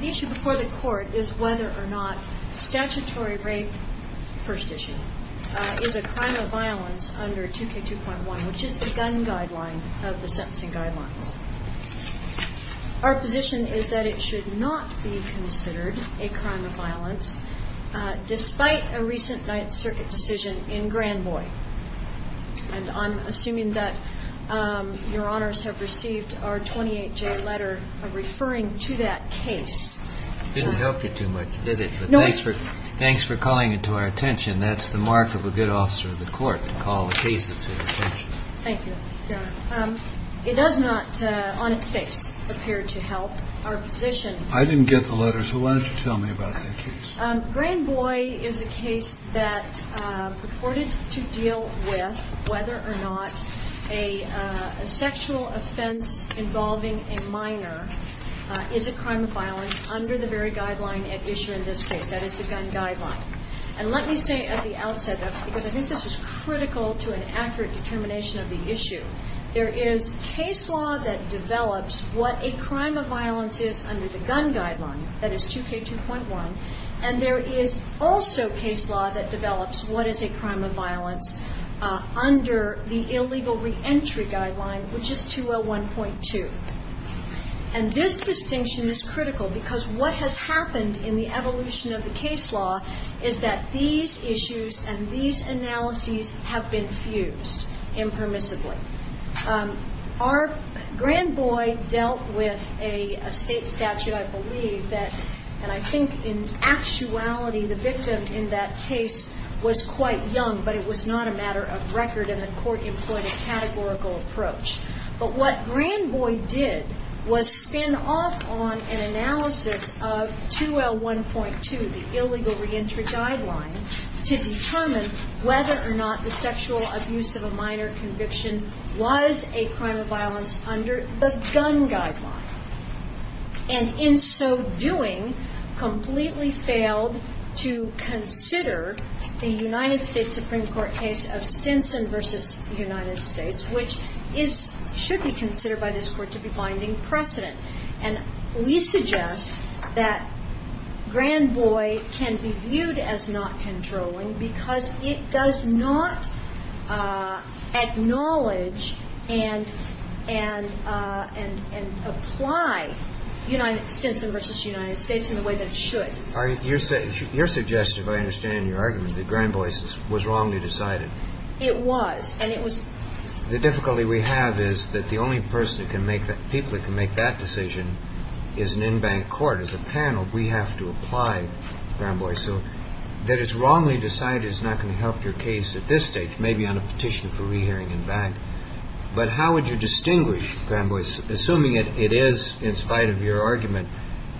The issue before the court is whether or not statutory rape, first issue, is a crime of violence under 2K2.1 which is the gun guideline of the sentencing guidelines. Our position is that it should not be considered a crime of violence despite a recent 9th Circuit decision in Granboy. And I'm assuming that Your Honors have received our 28-J letter referring to that case. It didn't help you too much, did it? No. Thanks for calling it to our attention. That's the mark of a good officer of the court, to call a case that's of your attention. Thank you, Your Honor. It does not, on its face, appear to help our position. I didn't get the letter, so why don't you tell me about that case? Granboy is a case that purported to deal with whether or not a sexual offense involving a minor is a crime of violence under the very guideline at issue in this case, that is the gun guideline. And let me say at the outset, because I think this is critical to an accurate determination of the issue, there is case law that develops what a crime of violence is under the gun guideline, that is 2K2.1, and there is also case law that develops what is a crime of violence under the illegal reentry guideline, which is 201.2. And this distinction is critical because what has happened in the evolution of the case law is that these issues and these analyses have been fused impermissibly. Granboy dealt with a state statute, I believe, and I think in actuality the victim in that case was quite young, but it was not a matter of record and the court employed a categorical approach. But what Granboy did was spin off on an analysis of 2L1.2, the illegal reentry guideline, to determine whether or not the sexual abuse of a minor conviction was a crime of violence under the gun guideline. And in so doing, completely failed to consider the United States Supreme Court case of Stinson v. United States, which should be considered by this Court to be binding precedent. And we suggest that Granboy can be viewed as not controlling because it does not acknowledge and apply Stinson v. United States in the way that it should. Your suggestion, if I understand your argument, that Granboy was wrongly decided. It was. And it was that the only people that can make that decision is an in-bank court. As a panel, we have to apply Granboy. So that it's wrongly decided is not going to help your case at this stage, maybe on a petition for rehearing in-bank. But how would you distinguish, Granboy, assuming it is, in spite of your argument,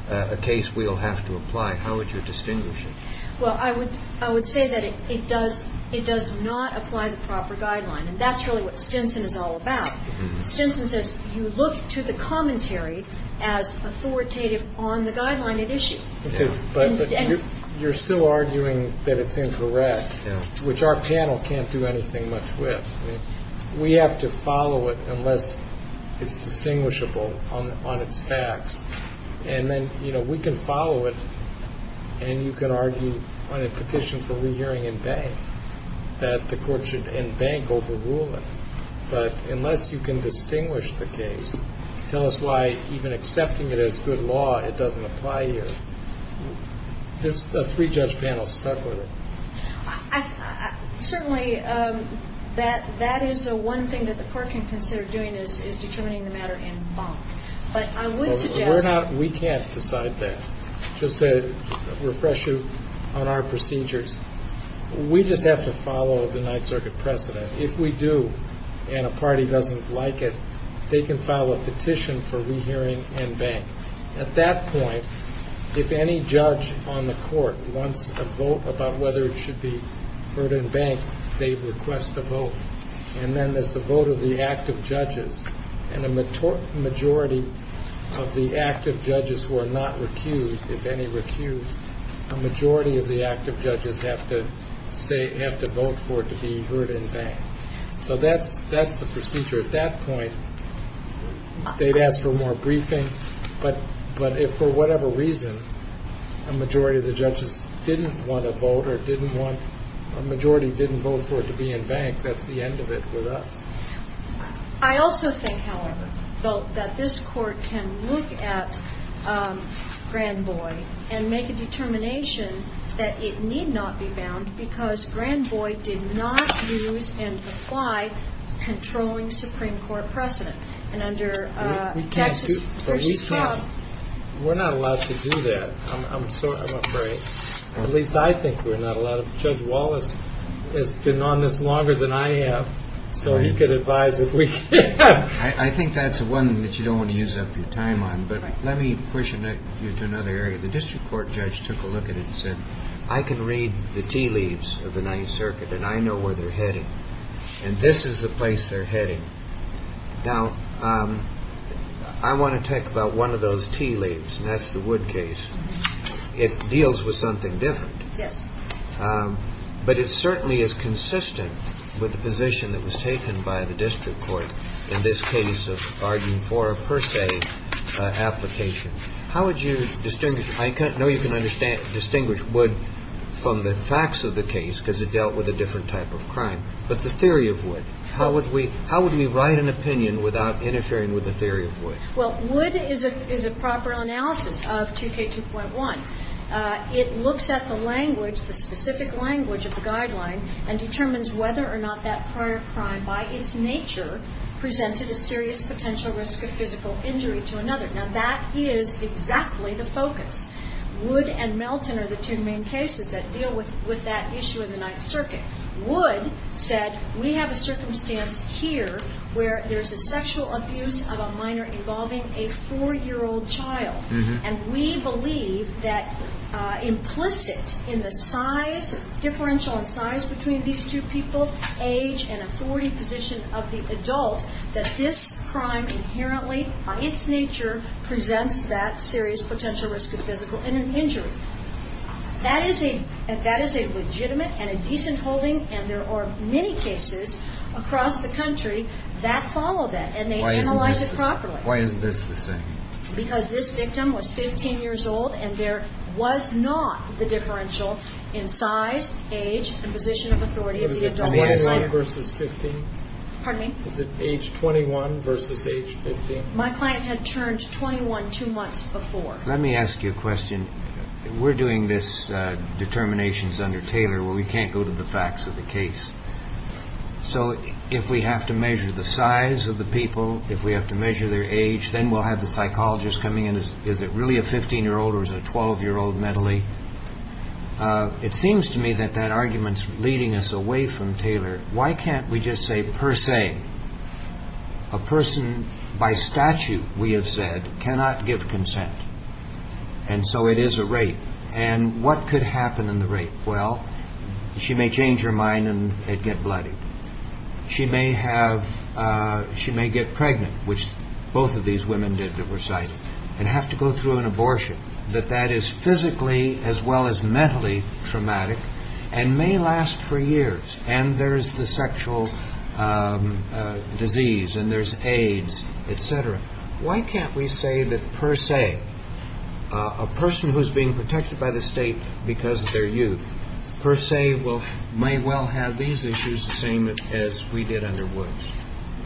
a case we'll have to apply? How would you distinguish it? Well, I would say that it does not apply the proper guideline. And that's really what Stinson is all about. Stinson says you look to the commentary as authoritative on the guideline at issue. But you're still arguing that it's incorrect, which our panel can't do anything much with. We have to follow it unless it's distinguishable on its facts. And then, you know, we can follow it, and you can argue on a petition for rehearing in-bank that the Court should, in-bank, overrule it. But unless you can distinguish the case, tell us why even accepting it as good law, it doesn't apply here. This three-judge panel stuck with it. Certainly, that is the one thing that the Court can consider doing, is determining the matter in-bank. But I would suggest- We can't decide that. Just to refresh you on our procedures, we just have to follow the Ninth Circuit precedent. If we do, and a party doesn't like it, they can file a petition for rehearing in-bank. At that point, if any judge on the Court wants a vote about whether it should be heard in-bank, they request a vote. And then there's the vote of the active judges. And a majority of the active judges who are not recused, if any recuse, a majority of the active judges have to vote for it to be heard in-bank. So that's the procedure. At that point, they'd ask for more briefing. But if, for whatever reason, a majority of the judges didn't want to vote, or a majority didn't vote for it to be in-bank, that's the end of it with us. I also think, however, that this Court can look at Granboy and make a determination that it need not be bound, because Granboy did not use and apply controlling Supreme Court precedent. And under Texas- We can't do that. We're not allowed to do that. I'm sorry. I'm afraid. At least I think we're not allowed. Judge Wallace has been on this longer than I have, so he could advise if we can. I think that's one that you don't want to use up your time on. But let me push you to another area. The District Court judge took a look at it and said, I can read the tea leaves of the Ninth Circuit, and I know where they're heading. And this is the place they're heading. Now, I want to talk about one of those tea leaves, and that's the Wood case. It deals with something different. Yes. But it certainly is consistent with the position that was taken by the District Court in this case of arguing for a per se application. How would you distinguish? I know you can distinguish Wood from the facts of the case, because it dealt with a different type of crime. But the theory of Wood, how would we write an opinion without interfering with the theory of Wood? Well, Wood is a proper analysis of 2K2.1. It looks at the language, the specific language of the guideline, and determines whether or not that prior crime by its nature presented a serious potential risk of physical injury to another. Now, that is exactly the focus. Wood and Melton are the two main cases that deal with that issue in the Ninth Circuit. Wood said, we have a circumstance here where there's a sexual abuse of a minor involving a 4-year-old child. And we believe that implicit in the size, differential in size, between these two people, age and authority position of the adult, that this crime inherently by its nature presents that serious potential risk of physical injury. That is a legitimate and a decent holding. And there are many cases across the country that follow that, and they analyze it properly. Why is this the same? Because this victim was 15 years old, and there was not the differential in size, age, and position of authority of the adult. Was it 21 versus 15? Pardon me? Was it age 21 versus age 15? My client had turned 21 two months before. Let me ask you a question. We're doing this determinations under Taylor where we can't go to the facts of the case. So if we have to measure the size of the people, if we have to measure their age, then we'll have the psychologist coming in. Is it really a 15-year-old or is it a 12-year-old mentally? It seems to me that that argument's leading us away from Taylor. Why can't we just say per se? A person by statute, we have said, cannot give consent, and so it is a rape. And what could happen in the rape? Well, she may change her mind and get bloodied. She may get pregnant, which both of these women did that were cited, and have to go through an abortion. That that is physically as well as mentally traumatic and may last for years. And there is the sexual disease and there's AIDS, et cetera. Why can't we say that per se, a person who is being protected by the state because of their youth per se may well have these issues the same as we did under Woods?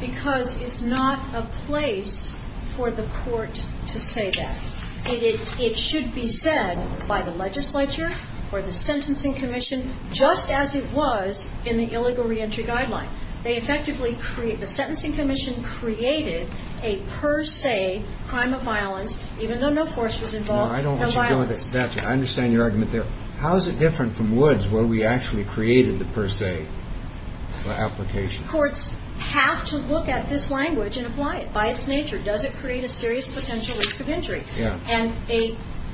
Because it's not a place for the court to say that. It should be said by the legislature or the Sentencing Commission, just as it was in the Illegal Reentry Guideline. The Sentencing Commission created a per se crime of violence, even though no force was involved. No, I don't want you going to statute. I understand your argument there. How is it different from Woods where we actually created the per se application? Courts have to look at this language and apply it by its nature. Does it create a serious potential risk of injury? Yeah. And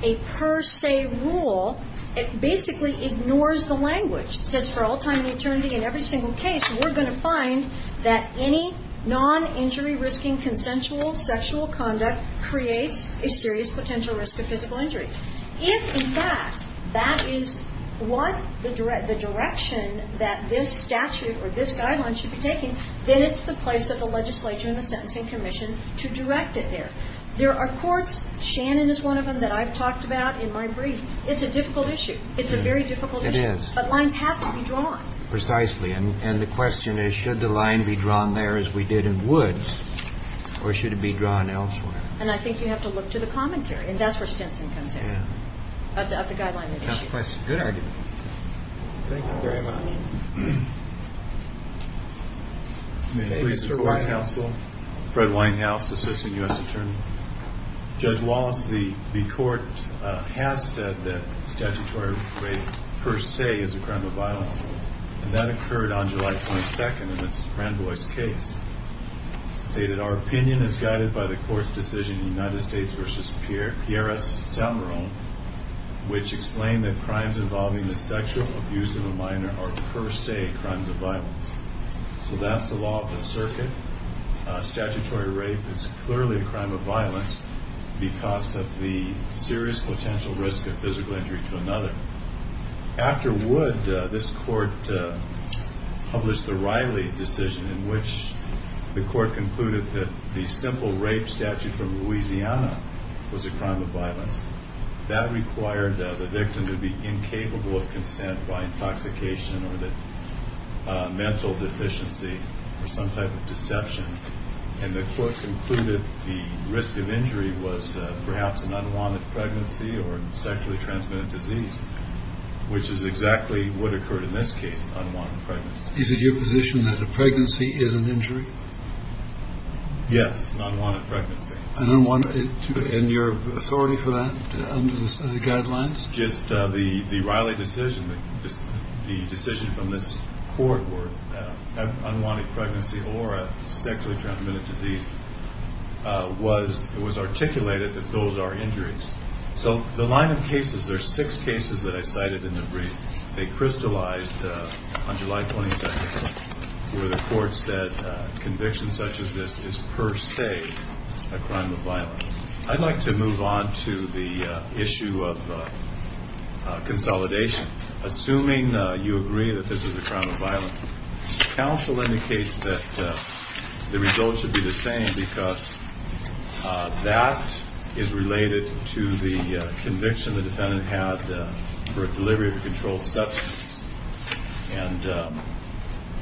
a per se rule, it basically ignores the language. It says for all time and eternity in every single case, we're going to find that any non-injury-risking consensual sexual conduct creates a serious potential risk of physical injury. If, in fact, that is what the direction that this statute or this guideline should be taking, then it's the place of the legislature and the Sentencing Commission to direct it there. There are courts, Shannon is one of them, that I've talked about in my brief. It's a difficult issue. It's a very difficult issue. It is. But lines have to be drawn. Precisely. And the question is, should the line be drawn there as we did in Woods, or should it be drawn elsewhere? And I think you have to look to the commentary, and that's where Stinson comes in. Yeah. Of the guideline. That's a good argument. Thank you very much. May it please the Court of Counsel. Fred Winehouse, Assistant U.S. Attorney. Judge Wallace, the Court has said that statutory rape per se is a crime of violence, and that occurred on July 22nd in the Cranbois case. It stated, our opinion is guided by the Court's decision in United States v. Pierres-Salmeron, which explained that crimes involving the sexual abuse of a minor are per se crimes of violence. So that's the law of the circuit. Statutory rape is clearly a crime of violence because of the serious potential risk of physical injury to another. After Woods, this Court published the Riley decision, in which the Court concluded that the simple rape statute from Louisiana was a crime of violence. That required the victim to be incapable of consent by intoxication or mental deficiency or some type of deception. And the Court concluded the risk of injury was perhaps an unwanted pregnancy or sexually transmitted disease, which is exactly what occurred in this case, an unwanted pregnancy. Is it your position that a pregnancy is an injury? Yes, an unwanted pregnancy. And your authority for that under the guidelines? It's just the Riley decision, the decision from this Court, where an unwanted pregnancy or a sexually transmitted disease was articulated that those are injuries. So the line of cases, there are six cases that I cited in the brief. They crystallized on July 22nd where the Court said conviction such as this is per se a crime of violence. I'd like to move on to the issue of consolidation. Assuming you agree that this is a crime of violence, counsel indicates that the result should be the same because that is related to the conviction the defendant had for a delivery of a controlled substance. And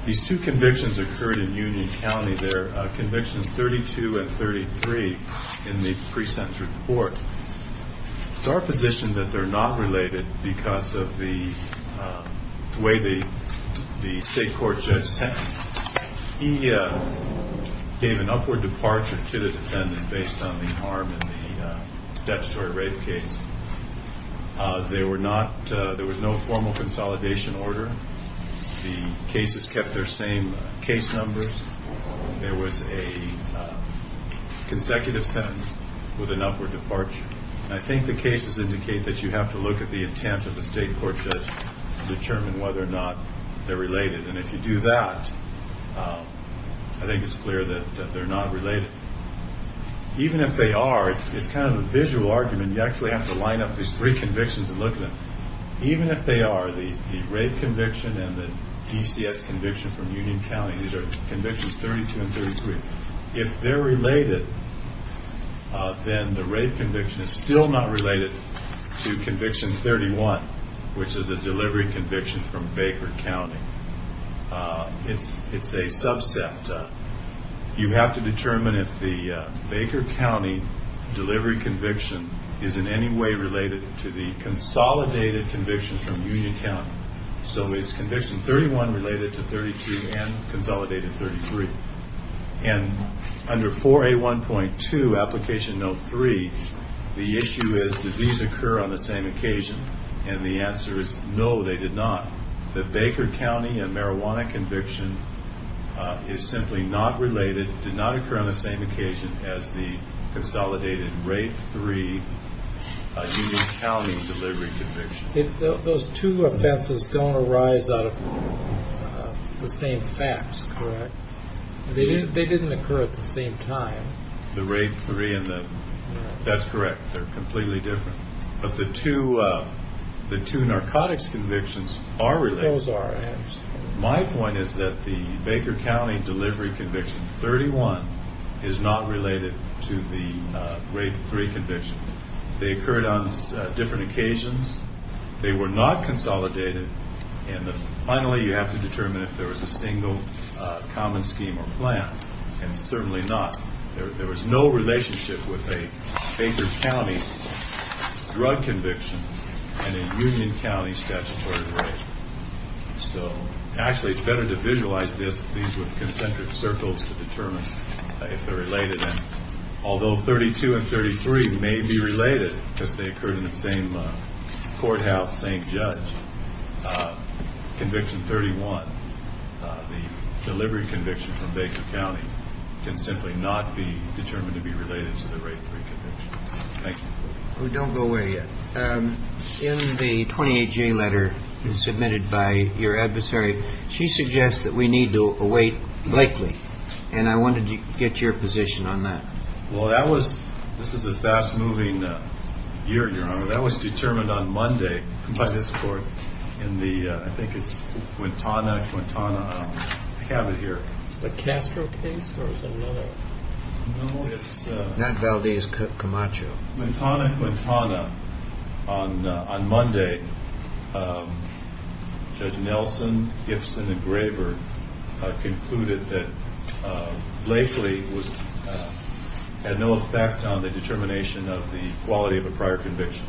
these two convictions occurred in Union County there, Convictions 32 and 33 in the pre-sentence report. It's our position that they're not related because of the way the state court judge sentenced them. He gave an upward departure to the defendant based on the harm in the statutory rape case. There was no formal consolidation order. The cases kept their same case numbers. There was a consecutive sentence with an upward departure. I think the cases indicate that you have to look at the intent of the state court judge to determine whether or not they're related. And if you do that, I think it's clear that they're not related. Even if they are, it's kind of a visual argument. You actually have to line up these three convictions and look at them. Even if they are, the rape conviction and the DCS conviction from Union County, these are convictions 32 and 33, if they're related, then the rape conviction is still not related to conviction 31, which is a delivery conviction from Baker County. It's a subset. You have to determine if the Baker County delivery conviction is in any way related to the consolidated convictions from Union County. So is conviction 31 related to 32 and consolidated 33? And under 4A1.2, application note 3, the issue is did these occur on the same occasion? And the answer is no, they did not. The Baker County and marijuana conviction is simply not related, did not occur on the same occasion as the consolidated rape 3 Union County delivery conviction. Those two offenses don't arise out of the same facts, correct? They didn't occur at the same time. The rape 3 and the, that's correct, they're completely different. But the two narcotics convictions are related. Those are. My point is that the Baker County delivery conviction 31 is not related to the rape 3 conviction. They occurred on different occasions. They were not consolidated. And finally, you have to determine if there was a single common scheme or plan. And certainly not. There was no relationship with a Baker County drug conviction and a Union County statutory rape. So actually, it's better to visualize these with concentric circles to determine if they're related. Although 32 and 33 may be related because they occurred in the same courthouse, same judge, conviction 31, the delivery conviction from Baker County can simply not be determined to be related to the rape 3 conviction. Thank you. We don't go away yet. In the 28-J letter submitted by your adversary, she suggests that we need to await likely. And I wanted to get your position on that. Well, that was. This is a fast moving year. That was determined on Monday by this court in the. I think it's Quintana. Quintana. I have it here. The Castro case was another. No, it's not. Valdez. Camacho. Montana. Montana. On Monday, Judge Nelson, Gibson and Graver concluded that Blakely had no effect on the determination of the quality of a prior conviction.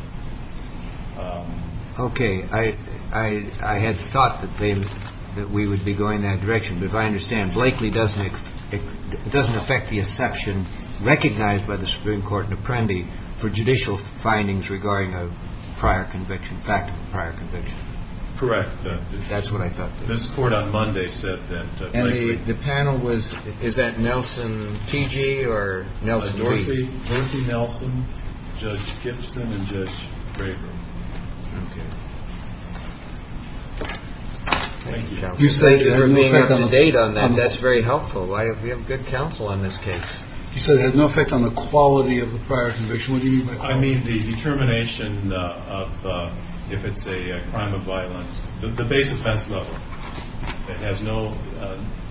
OK. I had thought that we would be going that direction. But I understand Blakely doesn't. It doesn't affect the exception recognized by the Supreme Court and Apprendi for judicial findings regarding a prior conviction. Back to the prior conviction. Correct. That's what I thought. This court on Monday said that. And the panel was. Is that Nelson T.G. or Nelson? Dorothy. Dorothy Nelson. Judge Gibson and Judge Graver. Thank you. You say you remain up to date on that. That's very helpful. Why? We have good counsel on this case. So it has no effect on the quality of the prior conviction. I mean, the determination of if it's a crime of violence, the base offense level. It has no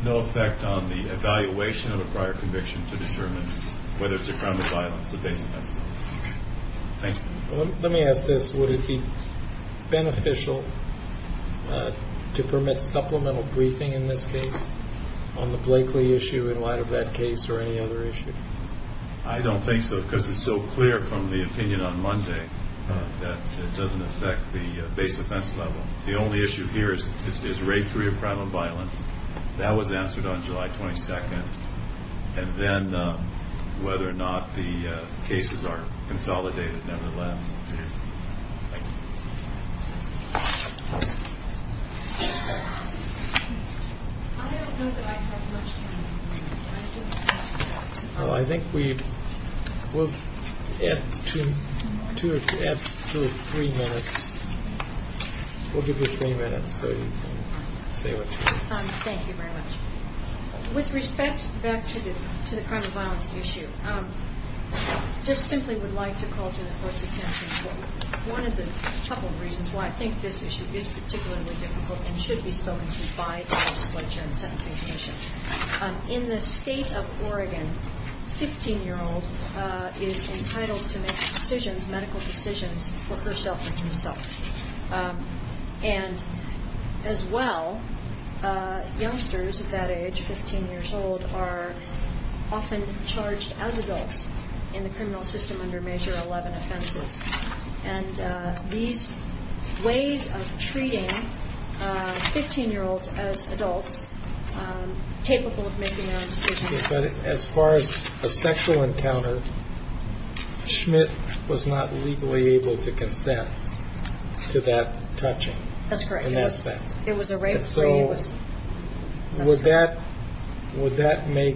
no effect on the evaluation of a prior conviction to determine whether it's a crime of violence. Thank you. Let me ask this. Would it be beneficial to permit supplemental briefing in this case on the Blakely issue in light of that case or any other issue? I don't think so because it's so clear from the opinion on Monday that it doesn't affect the base offense level. The only issue here is rate three of crime of violence. That was answered on July 22nd. And then whether or not the cases are consolidated. Nevertheless. I think we will add two or three minutes. We'll give you three minutes so you can say what you want. Thank you very much. With respect back to the crime of violence issue, I just simply would like to call to the court's attention one of the couple reasons why I think this issue is particularly difficult and should be spoken to by the legislature and sentencing commission. In the state of Oregon, a 15-year-old is entitled to make decisions, medical decisions, for herself and herself. And as well, youngsters at that age, 15 years old, are often charged as adults in the criminal system under Measure 11 offenses. And these ways of treating 15-year-olds as adults capable of making their own decisions. As far as a sexual encounter, Schmidt was not legally able to consent to that touching. That's correct. In that sense. It was a rape. Would that make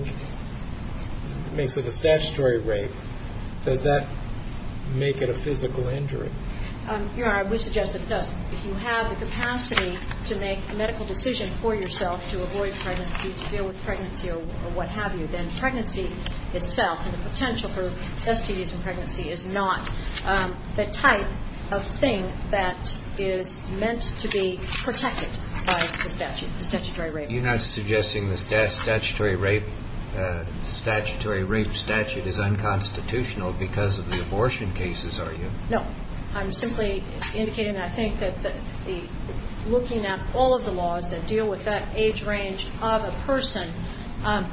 it a statutory rape? Does that make it a physical injury? Your Honor, I would suggest it does. If you have the capacity to make a medical decision for yourself to avoid pregnancy, to deal with pregnancy or what have you, then pregnancy itself and the potential for STDs in pregnancy is not the type of thing that is meant to be protected by the statute, the statutory rape. You're not suggesting the statutory rape statute is unconstitutional because of the abortion cases, are you? No. I'm simply indicating that I think that looking at all of the laws that deal with that age range of a person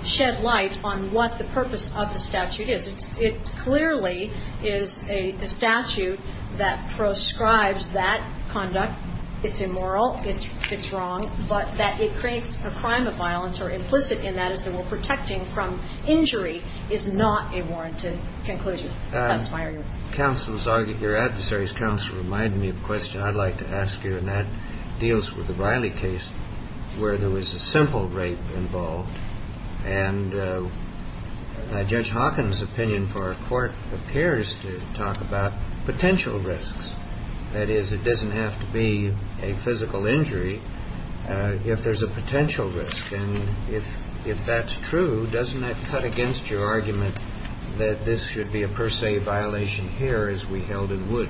shed light on what the purpose of the statute is. It clearly is a statute that proscribes that conduct. It's immoral. It's wrong. But that it creates a crime of violence or implicit in that is that we're protecting from injury is not a warranted conclusion. Counsel, your adversary's counsel reminded me of a question I'd like to ask you, and that deals with the Riley case where there was a simple rape involved. And Judge Hawkins' opinion for our court appears to talk about potential risks. That is, it doesn't have to be a physical injury if there's a potential risk. And if that's true, doesn't that cut against your argument that this should be a per se violation here as we held it would?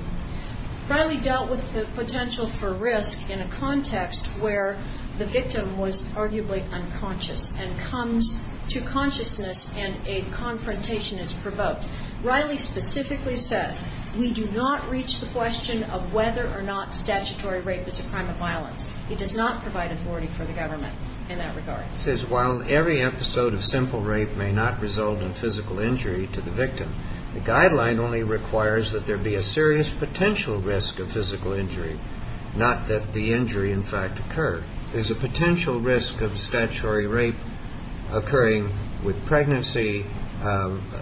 Riley dealt with the potential for risk in a context where the victim was arguably unconscious and comes to consciousness and a confrontation is provoked. Riley specifically said, we do not reach the question of whether or not statutory rape is a crime of violence. He does not provide authority for the government in that regard. He says while every episode of simple rape may not result in physical injury to the victim, the guideline only requires that there be a serious potential risk of physical injury, not that the injury in fact occurred. There's a potential risk of statutory rape occurring with pregnancy,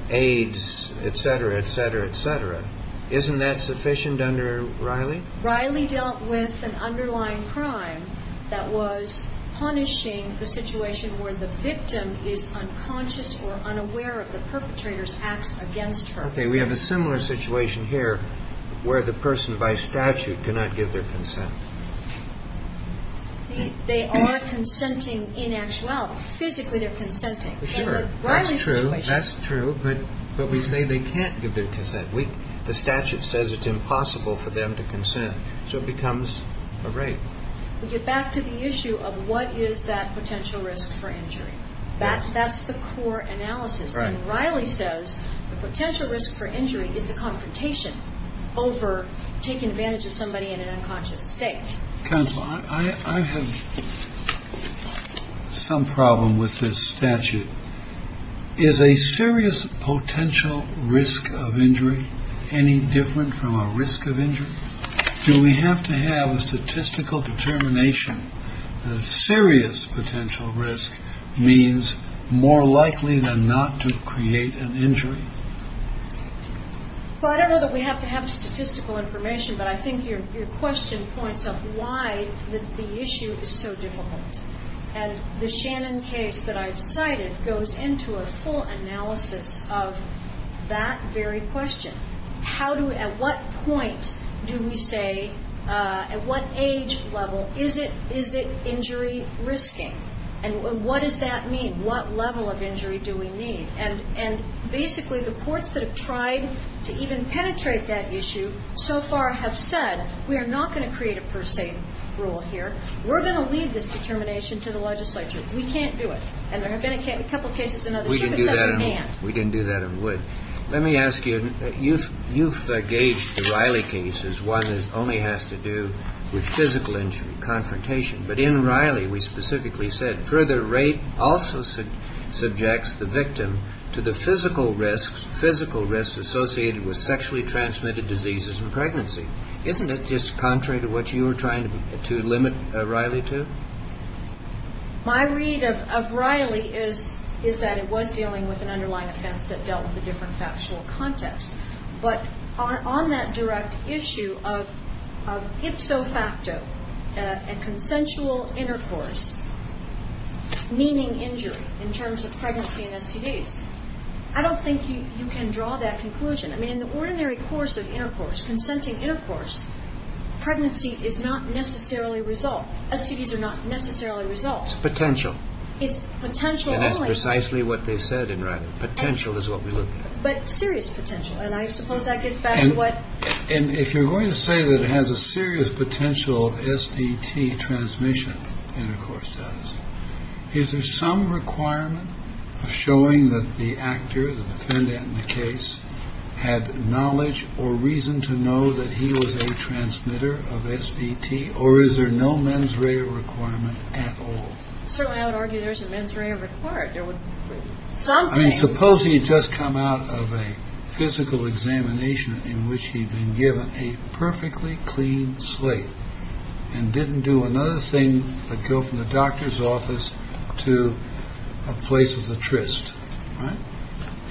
AIDS, et cetera, et cetera, et cetera. Isn't that sufficient under Riley? Riley dealt with an underlying crime that was punishing the situation where the victim is unconscious or unaware of the perpetrator's acts against her. Okay. We have a similar situation here where the person by statute cannot give their consent. They are consenting in actuality. Physically they're consenting. Sure. That's true. That's true. But we say they can't give their consent. The statute says it's impossible for them to consent. So it becomes a rape. We get back to the issue of what is that potential risk for injury. That's the core analysis. Right. And Riley says the potential risk for injury is the confrontation over taking advantage of somebody in an unconscious state. Counsel, I have some problem with this statute. Is a serious potential risk of injury any different from a risk of injury? Do we have to have a statistical determination that a serious potential risk means more likely than not to create an injury? Well, I don't know that we have to have statistical information, but I think your question points up why the issue is so difficult. And the Shannon case that I've cited goes into a full analysis of that very question. How do we at what point do we say at what age level is it injury risking? And what does that mean? What level of injury do we need? And basically the courts that have tried to even penetrate that issue so far have said we are not going to create a per se rule here. We're going to leave this determination to the legislature. We can't do it. And there have been a couple of cases in other states that said we can't. We didn't do that in Wood. Let me ask you, you've gauged the Riley case as one that only has to do with physical injury, confrontation. But in Riley we specifically said further rape also subjects the victim to the physical risks associated with sexually transmitted diseases and pregnancy. Isn't it just contrary to what you were trying to limit Riley to? My read of Riley is that it was dealing with an underlying offense that dealt with a different factual context. But on that direct issue of ipso facto, a consensual intercourse, meaning injury in terms of pregnancy and STDs, I don't think you can draw that conclusion. I mean in the ordinary course of intercourse, consenting intercourse, pregnancy is not necessarily a result. STDs are not necessarily a result. It's potential. It's potential only. And that's precisely what they said in Riley. Potential is what we looked at. But serious potential. And I suppose that gets back to what ‑‑ And if you're going to say that it has a serious potential of SDT transmission, intercourse does, is there some requirement of showing that the actor, the defendant in the case, had knowledge or reason to know that he was a transmitter of SDT? Or is there no mens rea requirement at all? Certainly I would argue there isn't mens rea required. There would be something. I mean, suppose he had just come out of a physical examination in which he had been given a perfectly clean slate and didn't do another thing but go from the doctor's office to a place of the tryst, right?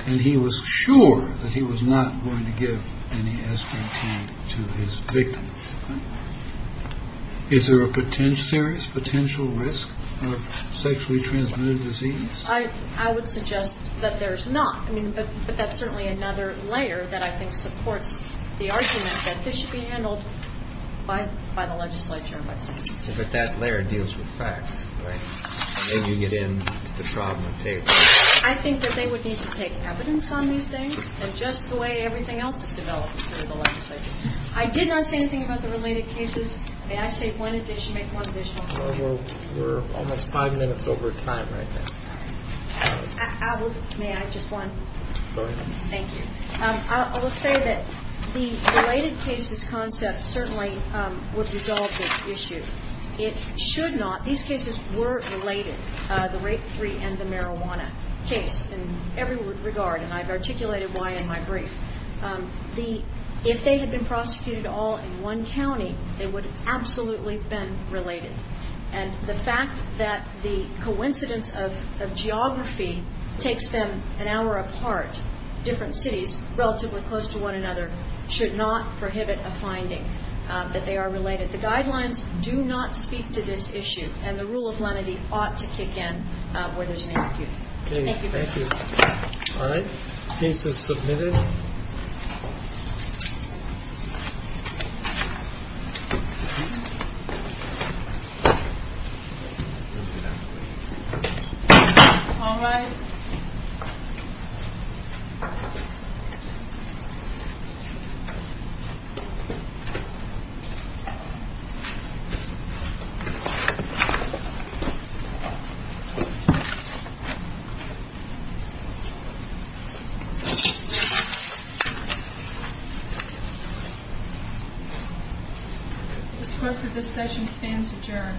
And he was sure that he was not going to give any SDT to his victim. Is there a serious potential risk of sexually transmitted disease? I would suggest that there's not. I mean, but that's certainly another layer that I think supports the argument that this should be handled by the legislature. But that layer deals with facts, right? And then you get into the trauma table. I think that they would need to take evidence on these things, and just the way everything else is developed through the legislature. I did not say anything about the related cases. May I say one additional thing? We're almost five minutes over time right now. May I just one? Go ahead. Thank you. I will say that the related cases concept certainly would resolve this issue. It should not. These cases were related, the rape three and the marijuana case, in every regard, and I've articulated why in my brief. If they had been prosecuted all in one county, they would have absolutely been related. And the fact that the coincidence of geography takes them an hour apart, different cities relatively close to one another, should not prohibit a finding that they are related. The guidelines do not speak to this issue, and the rule of lenity ought to kick in where there's an issue. Thank you. Thank you. All right. Case is submitted. Thank you. This clerk for this session stands adjourned.